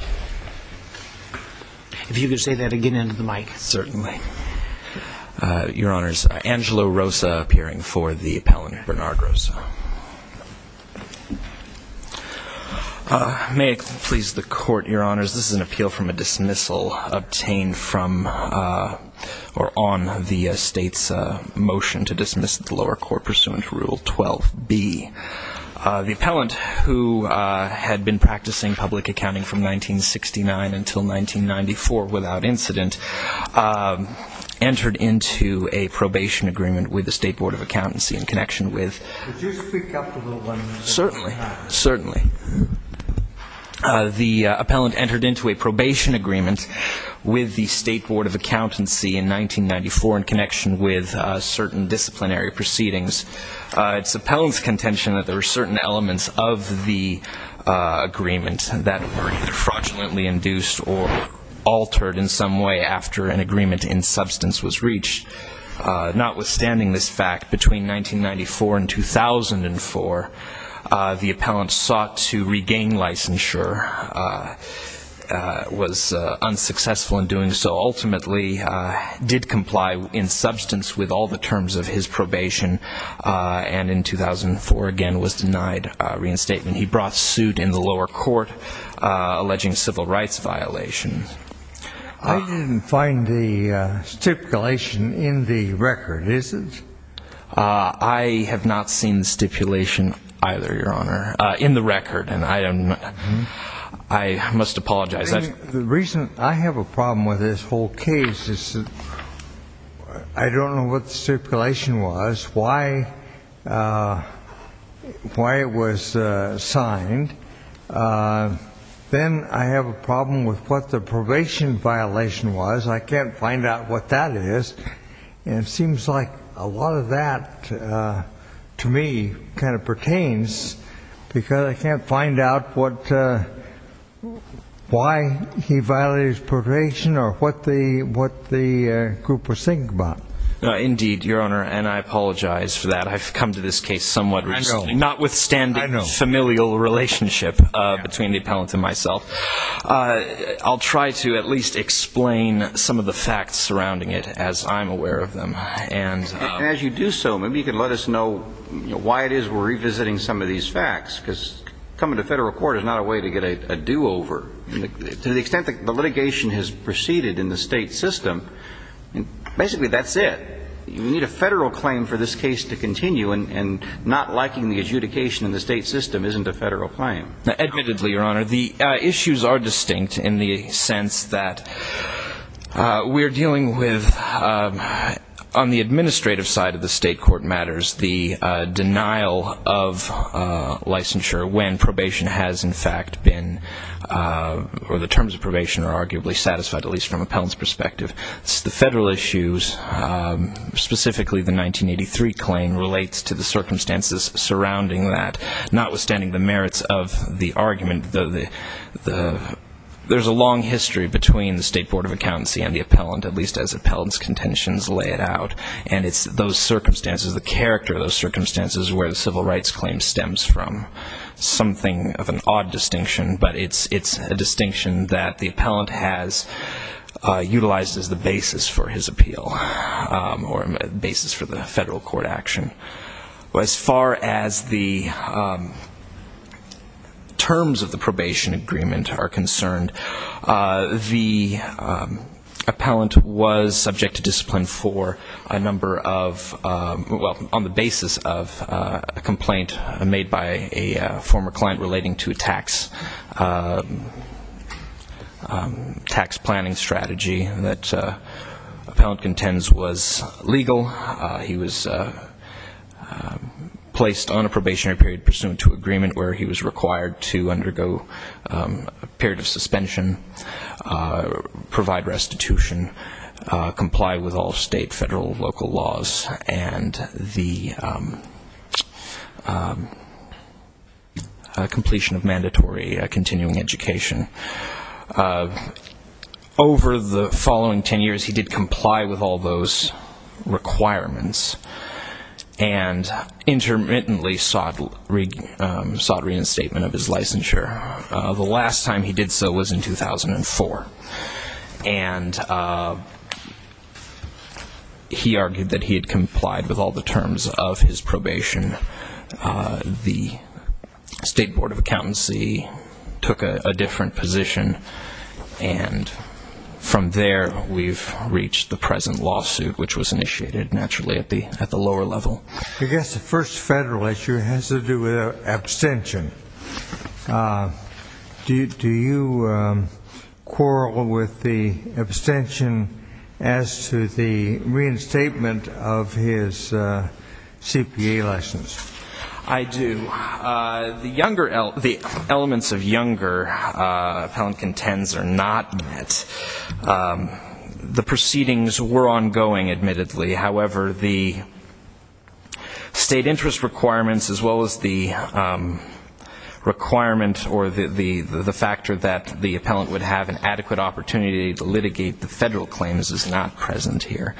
Appeal from a dismissal obtained on the state's motion to dismiss the lower court pursuant to Rule 12B. The appellant, who had been practicing public accounting from 1969 until 1994 without incident, entered into a probation agreement with the State Board of Accountancy in connection with... Could you speak up a little bit? Certainly. Certainly. The appellant entered into a probation agreement with the State contention that there were certain elements of the agreement that were either fraudulently induced or altered in some way after an agreement in substance was reached. Notwithstanding this fact, between 1994 and 2004, the appellant sought to regain licensure, was unsuccessful in doing so, ultimately did comply in substance with all the terms of his probation, and in 2004, again, was denied reinstatement. He brought suit in the lower court alleging civil rights violations. I didn't find the stipulation in the record, is it? I have not seen the stipulation either, Your Honor, in the record, and I must apologize. The reason I have a problem with this whole case is I don't know what the stipulation was, why it was signed. Then I have a problem with what the probation violation was. I can't find out what that is, and it seems like a lot of that, to me, kind of pertains because I can't find out why he violated his probation or what the group was thinking about. Indeed, Your Honor, and I apologize for that. I've come to this case somewhat recently, notwithstanding familial relationship between the appellant and myself. I'll try to at least explain some of the facts surrounding it, as I'm aware of them. As you do so, maybe you could let us know why it is we're revisiting some of these facts, because coming to federal court is not a way to get a do-over. To the extent that the litigation has proceeded in the state system, basically that's it. You need a federal claim for this case to continue, and not liking the adjudication in the state system isn't a federal claim. Admittedly, Your Honor, the issues are distinct in the sense that we're dealing with, on the probation has, in fact, been, or the terms of probation are arguably satisfied, at least from appellant's perspective. The federal issues, specifically the 1983 claim, relates to the circumstances surrounding that. Notwithstanding the merits of the argument, there's a long history between the State Board of Accountancy and the appellant, at least as appellant's contentions lay it out, and it's those circumstances, the character of those circumstances, where the civil rights claim stems from. Something of an odd distinction, but it's a distinction that the appellant has utilized as the basis for his appeal, or basis for the federal court action. As far as the terms of the probation agreement are concerned, the appellant was subject to a complaint made by a former client relating to a tax planning strategy that appellant contends was legal. He was placed on a probationary period pursuant to agreement where he was required to undergo a period of suspension, provide restitution, comply with all state, federal, local laws, and the completion of mandatory continuing education. Over the following ten years, he did comply with all those requirements, and intermittently sought reinstatement of his licensure. The last time he did so was in 2004, and he argued that he had complied with all the terms of his probation. The State Board of Accountancy took a different position, and from there, we've reached the present lawsuit, which was initiated, naturally, at the lower level. I guess the first federal issue has to do with abstention. Do you quarrel with the abstention as to the reinstatement of his CPA license? I do. The elements of younger appellant contends are not met. The proceedings were ongoing, admittedly. However, the state interest requirements, as well as the requirement or the factor that the appellant would have an adequate opportunity to litigate the federal claims is not present here.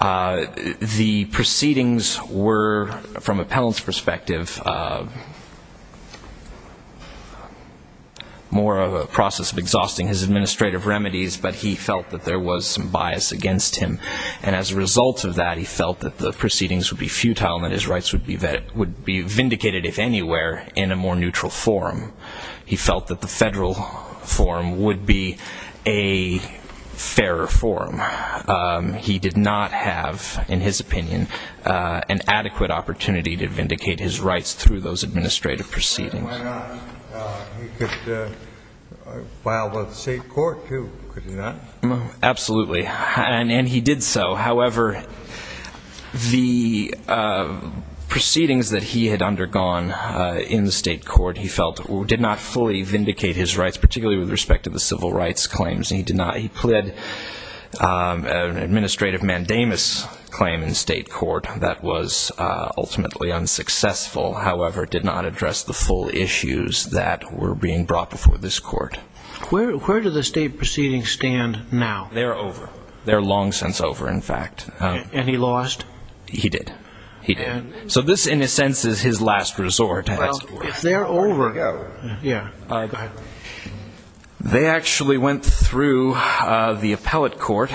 The proceedings were, from appellant's perspective, more of a process of exhausting his administrative remedies, but he felt that there was some bias against him. And as a result of that, he felt that the proceedings would be futile and that his rights would be vindicated, if anywhere, in a more neutral forum. He felt that the federal forum would be a fairer forum. He did not have, in his opinion, an adequate opportunity to vindicate his rights through those administrative proceedings. Why not? He could file with the state court, too, could he not? Absolutely. And he did so. However, the proceedings that he had undergone in the state court, he felt, did not fully vindicate his rights, particularly with respect to the civil rights claims. He pled an administrative mandamus claim in state court that was ultimately unsuccessful, however, did not address the full issues that were being brought before this court. Where do the state proceedings stand now? They're over. They're long since over, in fact. And he lost? He did. He did. So this, in a sense, is his last resort. Well, if they're over... There you go. Yeah. They actually went through the appellate court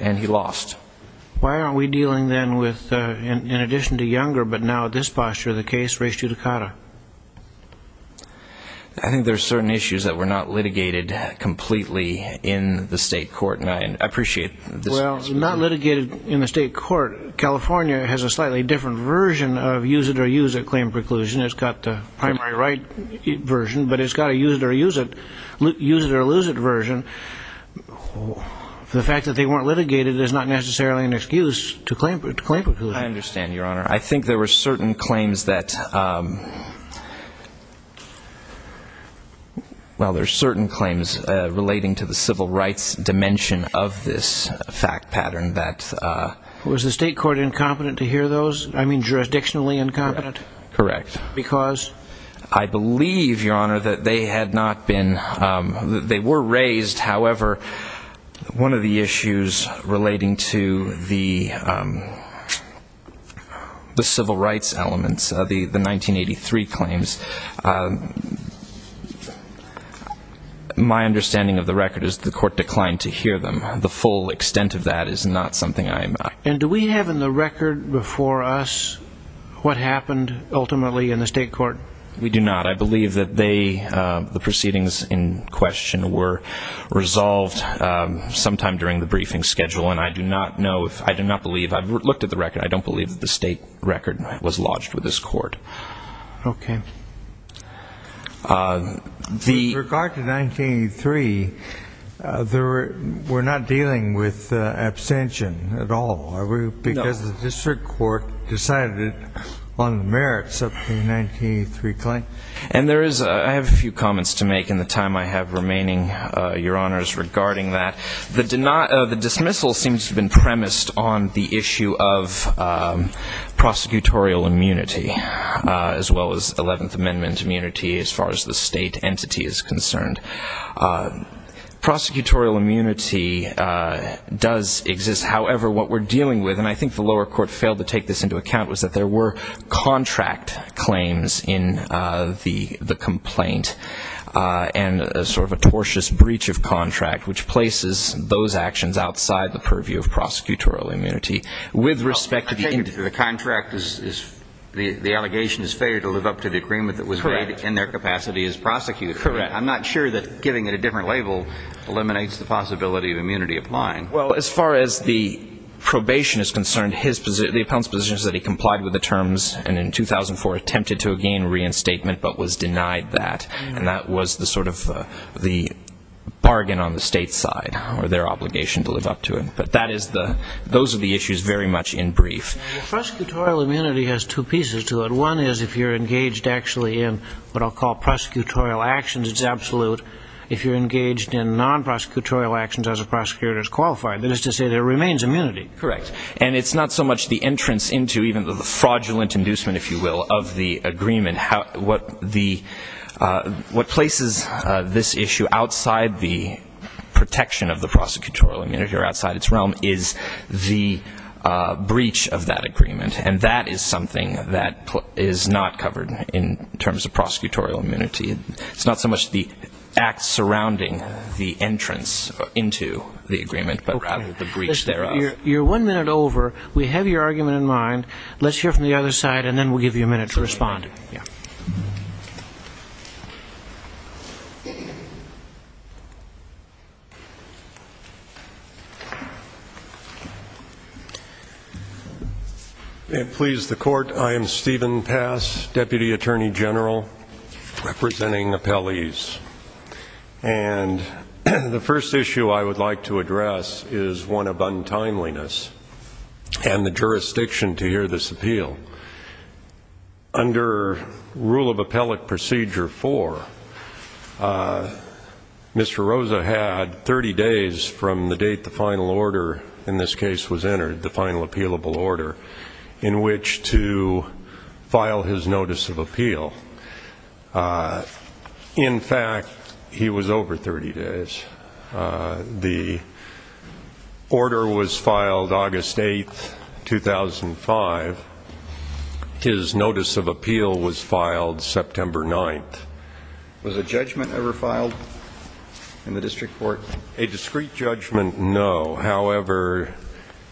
and he lost. Why aren't we dealing then with, in addition to Younger, but now at this posture, the case Race Judicata? I think there's certain issues that were not litigated completely in the state court, and I appreciate this... Well, not litigated in the state court. California has a slightly different version of use it or use it claim preclusion. It's got the primary right version, but it's got a use it or lose it version. The fact that they weren't litigated is not necessarily an excuse to claim preclusion. I understand, Your Honor. I think there were certain claims that... Well, there's certain claims relating to the civil rights dimension of this fact pattern that... Was the state court incompetent to hear those? I mean, jurisdictionally incompetent? Correct. Because? I believe, Your Honor, that they had not been... They were raised. However, one of the issues relating to the civil rights elements, the 1983 claims, my understanding of the record is the court declined to hear them. The full extent of that is not something I am... And do we have in the record before us what happened ultimately in the state court? We do not. I believe that they, the proceedings in question, were resolved sometime during the briefing schedule, and I do not know if... I do not believe... I've looked at the record. I don't believe that the state record was lodged with this court. Okay. With regard to 1983, we're not dealing with abstention at all. No. Because the district court decided on the merits of the 1983 claim. And there is... I have a few comments to make in the time I have remaining, Your Honors, regarding that. The dismissal seems to have been premised on the issue of prosecutorial immunity, as well as 11th Amendment immunity as far as the state entity is concerned. Prosecutorial immunity does exist. However, what we're dealing with, and I think the lower court failed to take this into account, was that there were contract claims in the complaint, and a sort of a tortious breach of contract, which places those actions outside the purview of prosecutorial immunity. With respect to the... I take it that the contract is... The allegation is failure to live up to the agreement that was made in their capacity as prosecutors. Correct. I'm not sure that giving it a different label eliminates the possibility of immunity applying. Well, as far as the probation is concerned, the appellant's position is that he complied with the terms, and in 2004 attempted to regain reinstatement, but was denied that. And that was the sort of the bargain on the state's side, or their obligation to live up to it. But that is the... Those are the issues very much in brief. Prosecutorial immunity has two pieces to it. One is if you're engaged actually in what is absolute, if you're engaged in non-prosecutorial actions as a prosecutor is qualified. That is to say, there remains immunity. Correct. And it's not so much the entrance into, even though the fraudulent inducement, if you will, of the agreement. What places this issue outside the protection of the prosecutorial immunity, or outside its realm, is the breach of that agreement. And that is something that the act surrounding the entrance into the agreement, but rather the breach thereof. You're one minute over. We have your argument in mind. Let's hear from the other side, and then we'll give you a minute to respond. May it please the Court. I am Stephen Pass, Deputy Attorney General representing appellees and the first issue I would like to address is one of untimeliness and the jurisdiction to hear this appeal. Under Rule of Appellate Procedure 4, Mr. Rosa had 30 days from the date the final order in this case was entered, the final appealable order, in which to file his notice of appeal. In fact, he was over 30 days. The order was filed August 8, 2005. His notice of appeal was filed September 9. Was a judgment ever filed in the district court? A discreet judgment, no. However,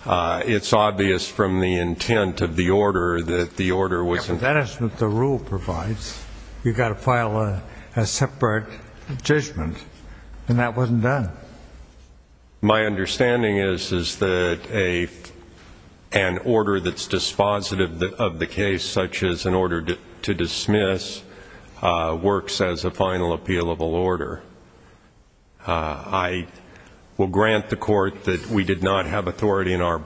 it's obvious from the intent of the order that the order wasn't... That is what the rule provides. You've got to file a separate judgment, and that wasn't done. My understanding is, is that an order that's dispositive of the case, such as an order to dismiss, works as a final appealable order. I will grant the Court that we did not have the authority for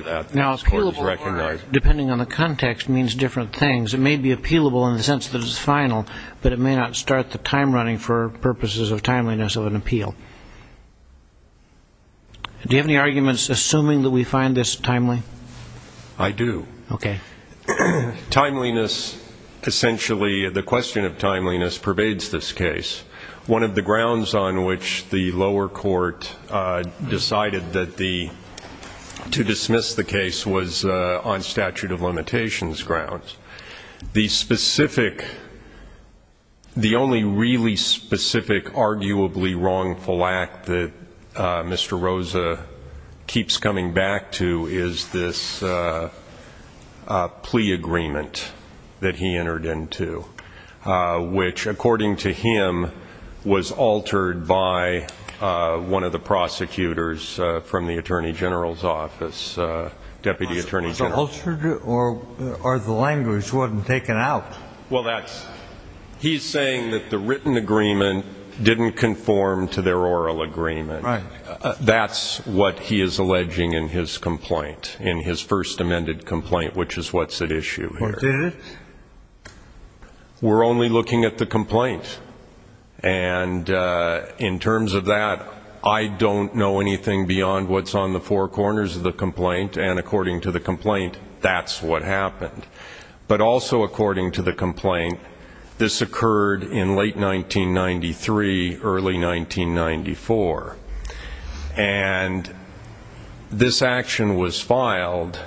that. Now, appealable order, depending on the context, means different things. It may be appealable in the sense that it's final, but it may not start the time running for purposes of timeliness of an appeal. Do you have any arguments assuming that we find this timely? I do. Okay. Timeliness, essentially, the question of timeliness, pervades this case. One of the grounds on which the lower court decided to dismiss the case was on statute of limitations grounds. The specific, the only really specific, arguably wrongful act that Mr. Rosa keeps coming back to is this plea agreement that he entered into, which, according to him, was altered by one of the prosecutors from the Attorney General's office, Deputy Attorney General. Was it altered, or the language wasn't taken out? Well, that's, he's saying that the written agreement didn't conform to their oral agreement. That's what he is alleging in his complaint, in his first amended complaint, which is what's at issue here. Or did it? We're only looking at the complaint. And in terms of that, I don't know anything beyond what's on the four corners of the complaint, and according to the complaint, that's what happened. But also according to the complaint, this occurred in late 1993, early 1994. And this action was filed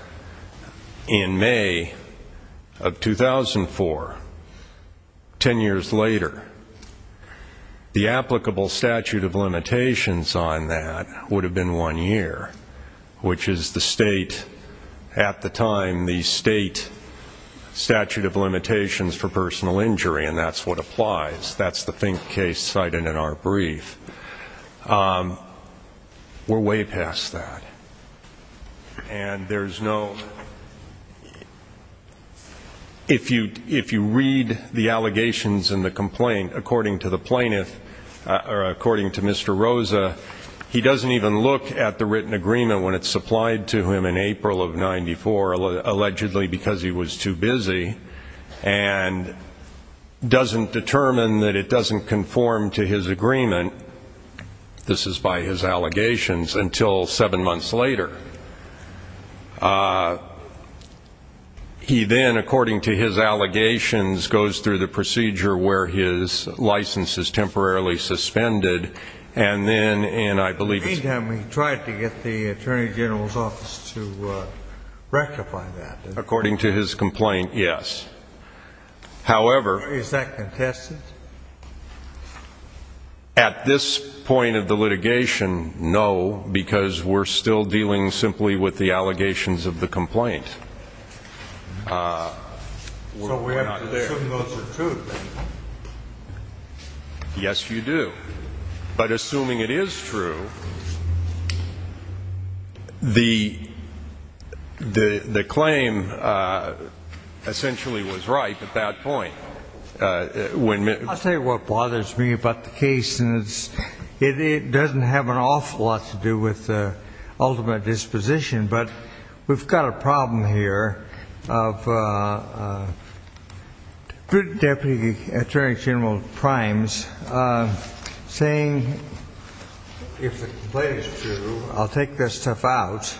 in May of 2004, ten years later. The applicable statute of limitations on that would have been one year, which is the state, at the time, the state statute of limitations for personal injury, and that's what applies. That's the case cited in our complaint. And there's no, if you read the allegations in the complaint, according to the plaintiff, or according to Mr. Rosa, he doesn't even look at the written agreement when it's supplied to him in April of 94, allegedly because he was too busy, and doesn't determine that it doesn't conform to his agreement, this is by his allegations, until seven months later. He then, according to his allegations, goes through the procedure where his license is temporarily suspended, and then, and I believe it's In the meantime, he tried to get the Attorney General's office to rectify that. According to his complaint, yes. However Is that contested? At this point of the litigation, no, because we're still dealing simply with the allegations of the complaint. So we have to assume those are true, then? Yes, you do. But assuming it is true, the claim essentially was right at that point. I'll tell you what bothers me about the case, and it doesn't have an awful lot to do with the ultimate disposition, but we've got a problem here of the Deputy Attorney General Primes saying, if the complaint is true, I'll take this stuff out,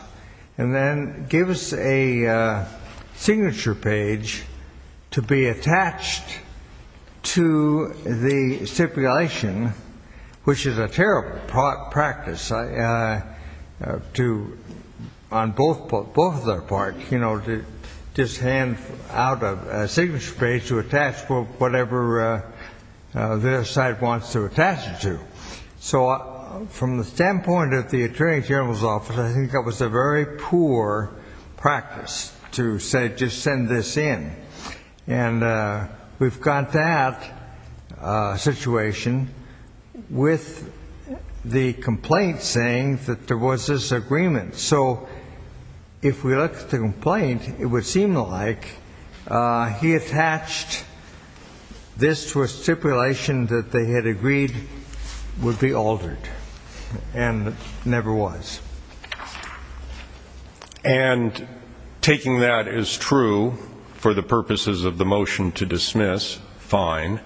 and then give us a signature page to be attached to the stipulation, which is a terrible practice, on both of their parts, you know, to just hand out a signature page to attach whatever the other side wants to attach it to. So from the standpoint of the Attorney General's office, I think that was a very poor practice to say, just send this in. And we've got that situation with the complaint saying that there was this agreement. So if we look at the complaint, it would seem like he attached this to a stipulation that they had agreed would be altered, and it never was. And, taking that as true, for the purposes of the motion to dismiss, fine.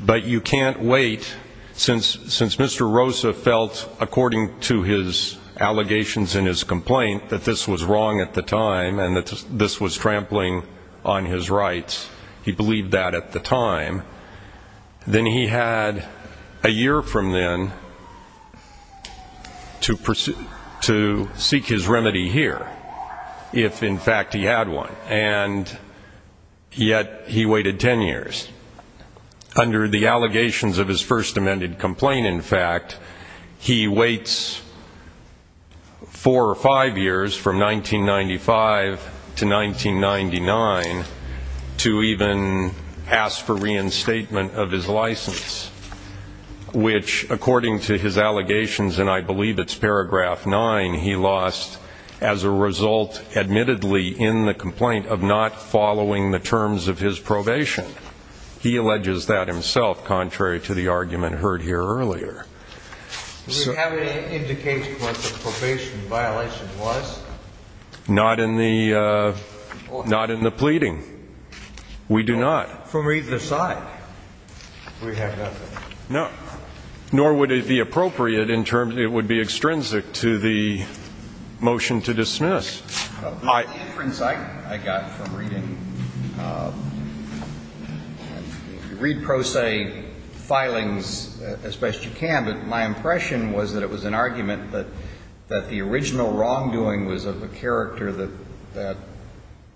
But you can't wait, since Mr. Rosa felt, according to his allegations in his complaint, that this was wrong at the time, and that this was trampling on his rights. He believed that at the time. Then he had a year from then to seek his remedy here, if in fact he had one. And yet, he waited ten years. Under the allegations of his first amended complaint, in fact, he waits four or five years, from 1995 to 1999, to even ask for reinstatement of his rights. Reinstatement of his license. Which, according to his allegations, and I believe it's paragraph nine, he lost as a result, admittedly, in the complaint, of not following the terms of his probation. He alleges that himself, contrary to the argument heard here earlier. Do we have any indication of what the probation violation was? Not in the pleading. We do not. From either side, we have nothing. No. Nor would it be appropriate in terms of, it would be extrinsic to the motion to dismiss. The inference I got from reading, read pro se filings as best you can, but my impression was that it was an argument that the original wrongdoing was of the character that that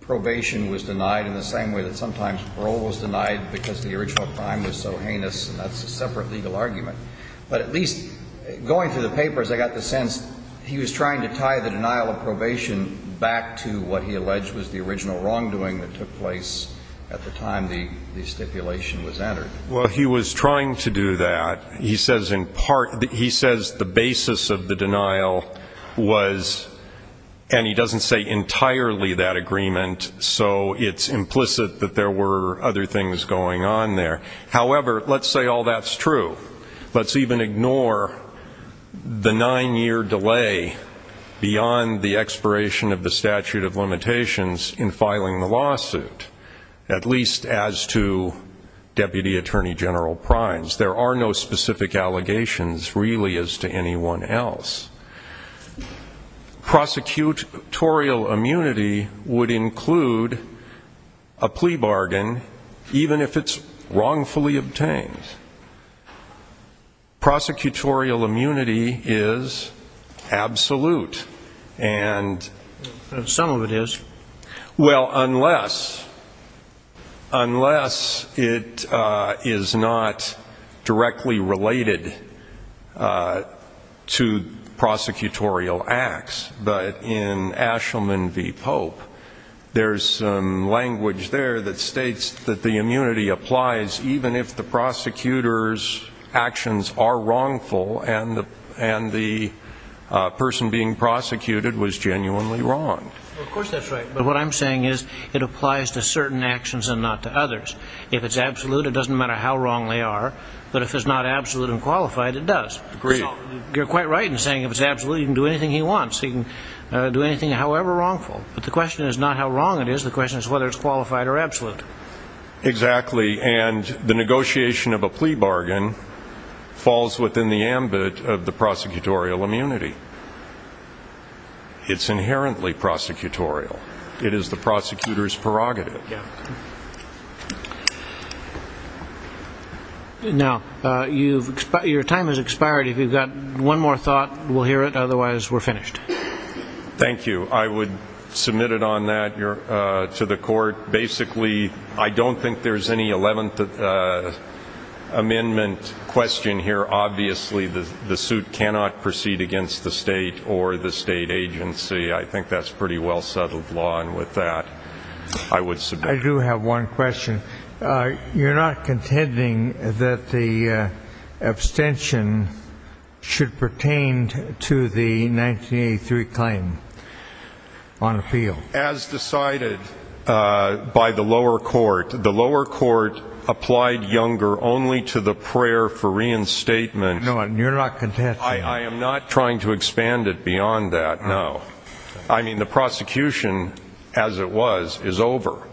probation was denied in the same way that sometimes parole was denied. Because the original crime was so heinous, and that's a separate legal argument. But at least, going through the papers, I got the sense he was trying to tie the denial of probation back to what he alleged was the original wrongdoing that took place at the time the stipulation was entered. Well, he was trying to do that. He says in part, he says the basis of the denial was, and he doesn't say entirely that agreement, so it's implicit that there were other things going on there. However, let's say all that's true. Let's even ignore the nine-year delay beyond the expiration of the statute of limitations in filing the lawsuit, at least as to Deputy Attorney General Primes. There are no specific allegations, really, as to anyone else. Prosecutorial immunity would include a plea bargain, even if it's wrongfully obtained. Prosecutorial immunity is absolute. Some of it is. Well, unless it is not directly related to prosecutorial acts, but in Ashelman v. Pope, there's language there that states that the immunity applies even if the prosecutor's actions are wrongful and the person being prosecuted was genuinely wrong. Of course that's right, but what I'm saying is it applies to certain actions and not to others. If it's absolute, it doesn't matter how wrong they are, but if it's not absolute and qualified, it does. Agreed. You're quite right in saying if it's absolute, he can do anything he wants. He can do anything, however wrongful, but the question is not how wrong it is. The question is whether it's qualified or absolute. Exactly, and the negotiation of a plea bargain falls within the ambit of the prosecutorial immunity. It's inherently prosecutorial. It is the prosecutor's prerogative. Now, your time has expired. If you've got one more thought, we'll hear it. Otherwise, we're finished. Thank you. I would submit it on that to the court. Basically, I don't think there's any 11th Amendment question here. Obviously, the suit cannot proceed against the state or the state agency. I think that's pretty well-settled law, and with that, I would submit. I do have one question. You're not contending that the abstention should pertain to the 1983 claim on appeal. As decided by the lower court, the lower court applied Younger only to the prayer for reinstatement. No, you're not contending that. I am not trying to expand it beyond that, no. I mean, the prosecution, as it was, is over.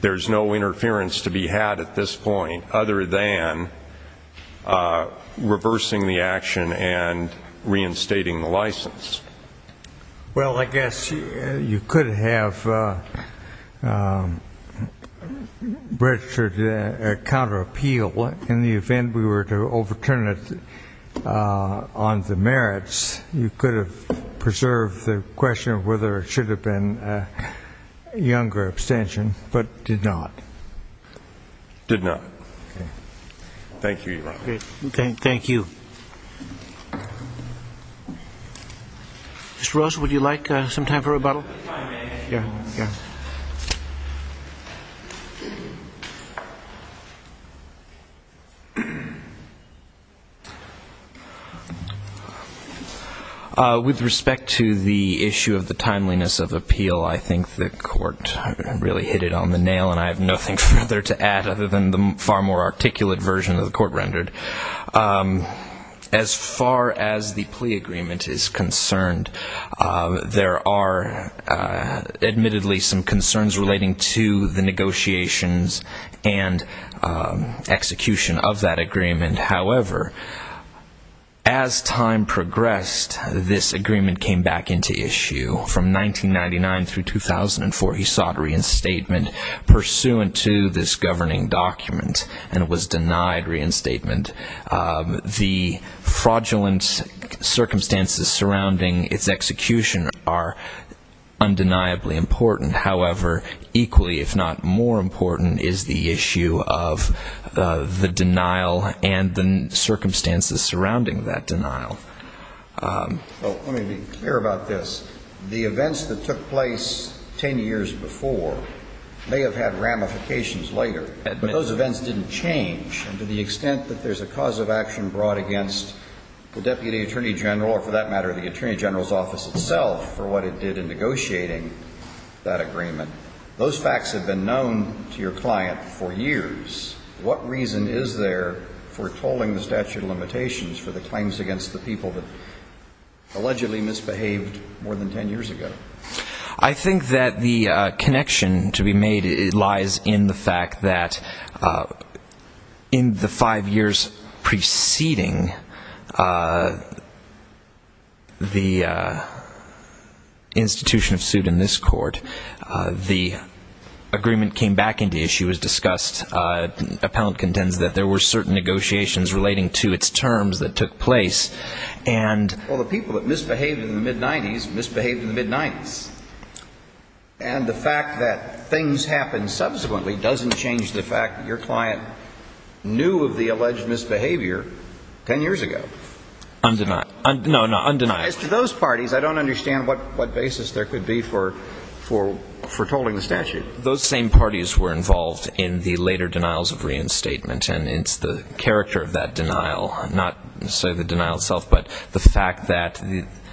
There's no interference to be had at this point other than reversing the action and reinstating the license. Well, I guess you could have registered a counterappeal in the event we were to overturn it on the merits. You could have preserved the question of whether it should have been a Younger abstention but did not. Did not. Thank you, Your Honor. Thank you. Mr. Rose, would you like some time for rebuttal? Yeah, yeah. With respect to the issue of the timeliness of appeal, I think the court really hit it on the nail, and I have nothing further to add other than the far more articulate version of the court rendered. As far as the plea agreement is concerned, there are admittedly some concerns relating to the negotiations and execution of that agreement. However, as time progressed, this agreement came back into issue. From 1999 through 2004, he sought reinstatement pursuant to this governing document and was denied reinstatement. The fraudulent circumstances surrounding its execution are undeniably important. However, equally, if not more important, is the issue of the denial and the circumstances surrounding that denial. Well, let me be clear about this. The events that took place 10 years before may have had ramifications later, but those events didn't change. And to the extent that there's a cause of action brought against the Deputy Attorney General or, for that matter, the Attorney General's Office itself for what it did in negotiating that agreement, those facts have been known to your client for years. What reason is there for culling the statute of limitations for the claims against the people that allegedly misbehaved more than 10 years ago? I think that the connection to be made lies in the fact that in the five years preceding the institution of suit in this court, the agreement came back into issue as discussed. Appellant contends that there were certain negotiations relating to its terms that took place. Well, the people that misbehaved in the mid-'90s misbehaved in the mid-'90s. And the fact that things happened subsequently doesn't change the fact that your client knew of the alleged misbehavior 10 years ago. No, no, undeniably. As to those parties, I don't understand what basis there could be for tolling the statute. Those same parties were involved in the later denials of reinstatement. And it's the character of that denial, not necessarily the denial itself, but the fact that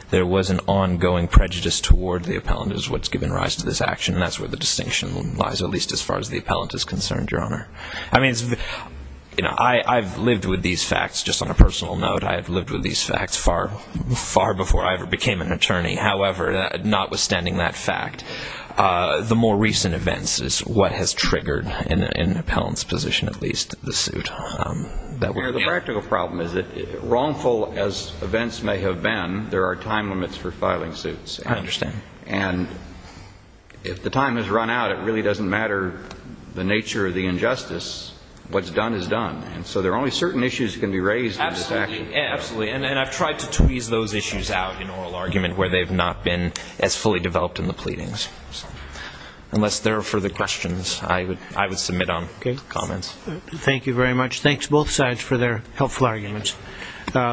there was an ongoing prejudice toward the appellant is what's given rise to this action. And that's where the distinction lies, at least as far as the appellant is concerned, Your Honor. I mean, you know, I've lived with these facts. Just on a personal note, I have lived with these facts far, far before I ever became an attorney. However, notwithstanding that fact, the more recent events is what has triggered, in the appellant's position at least, the suit. The practical problem is that, wrongful as events may have been, there are time limits for filing suits. I understand. And if the time has run out, it really doesn't matter the nature of the injustice. What's done is done. And so there are only certain issues that can be raised in this action. Absolutely. And I've tried to tweeze those issues out in oral argument where they've not been as fully developed in the pleadings. Unless there are further questions, I would submit on comments. Thank you very much. Thanks, both sides, for their helpful arguments.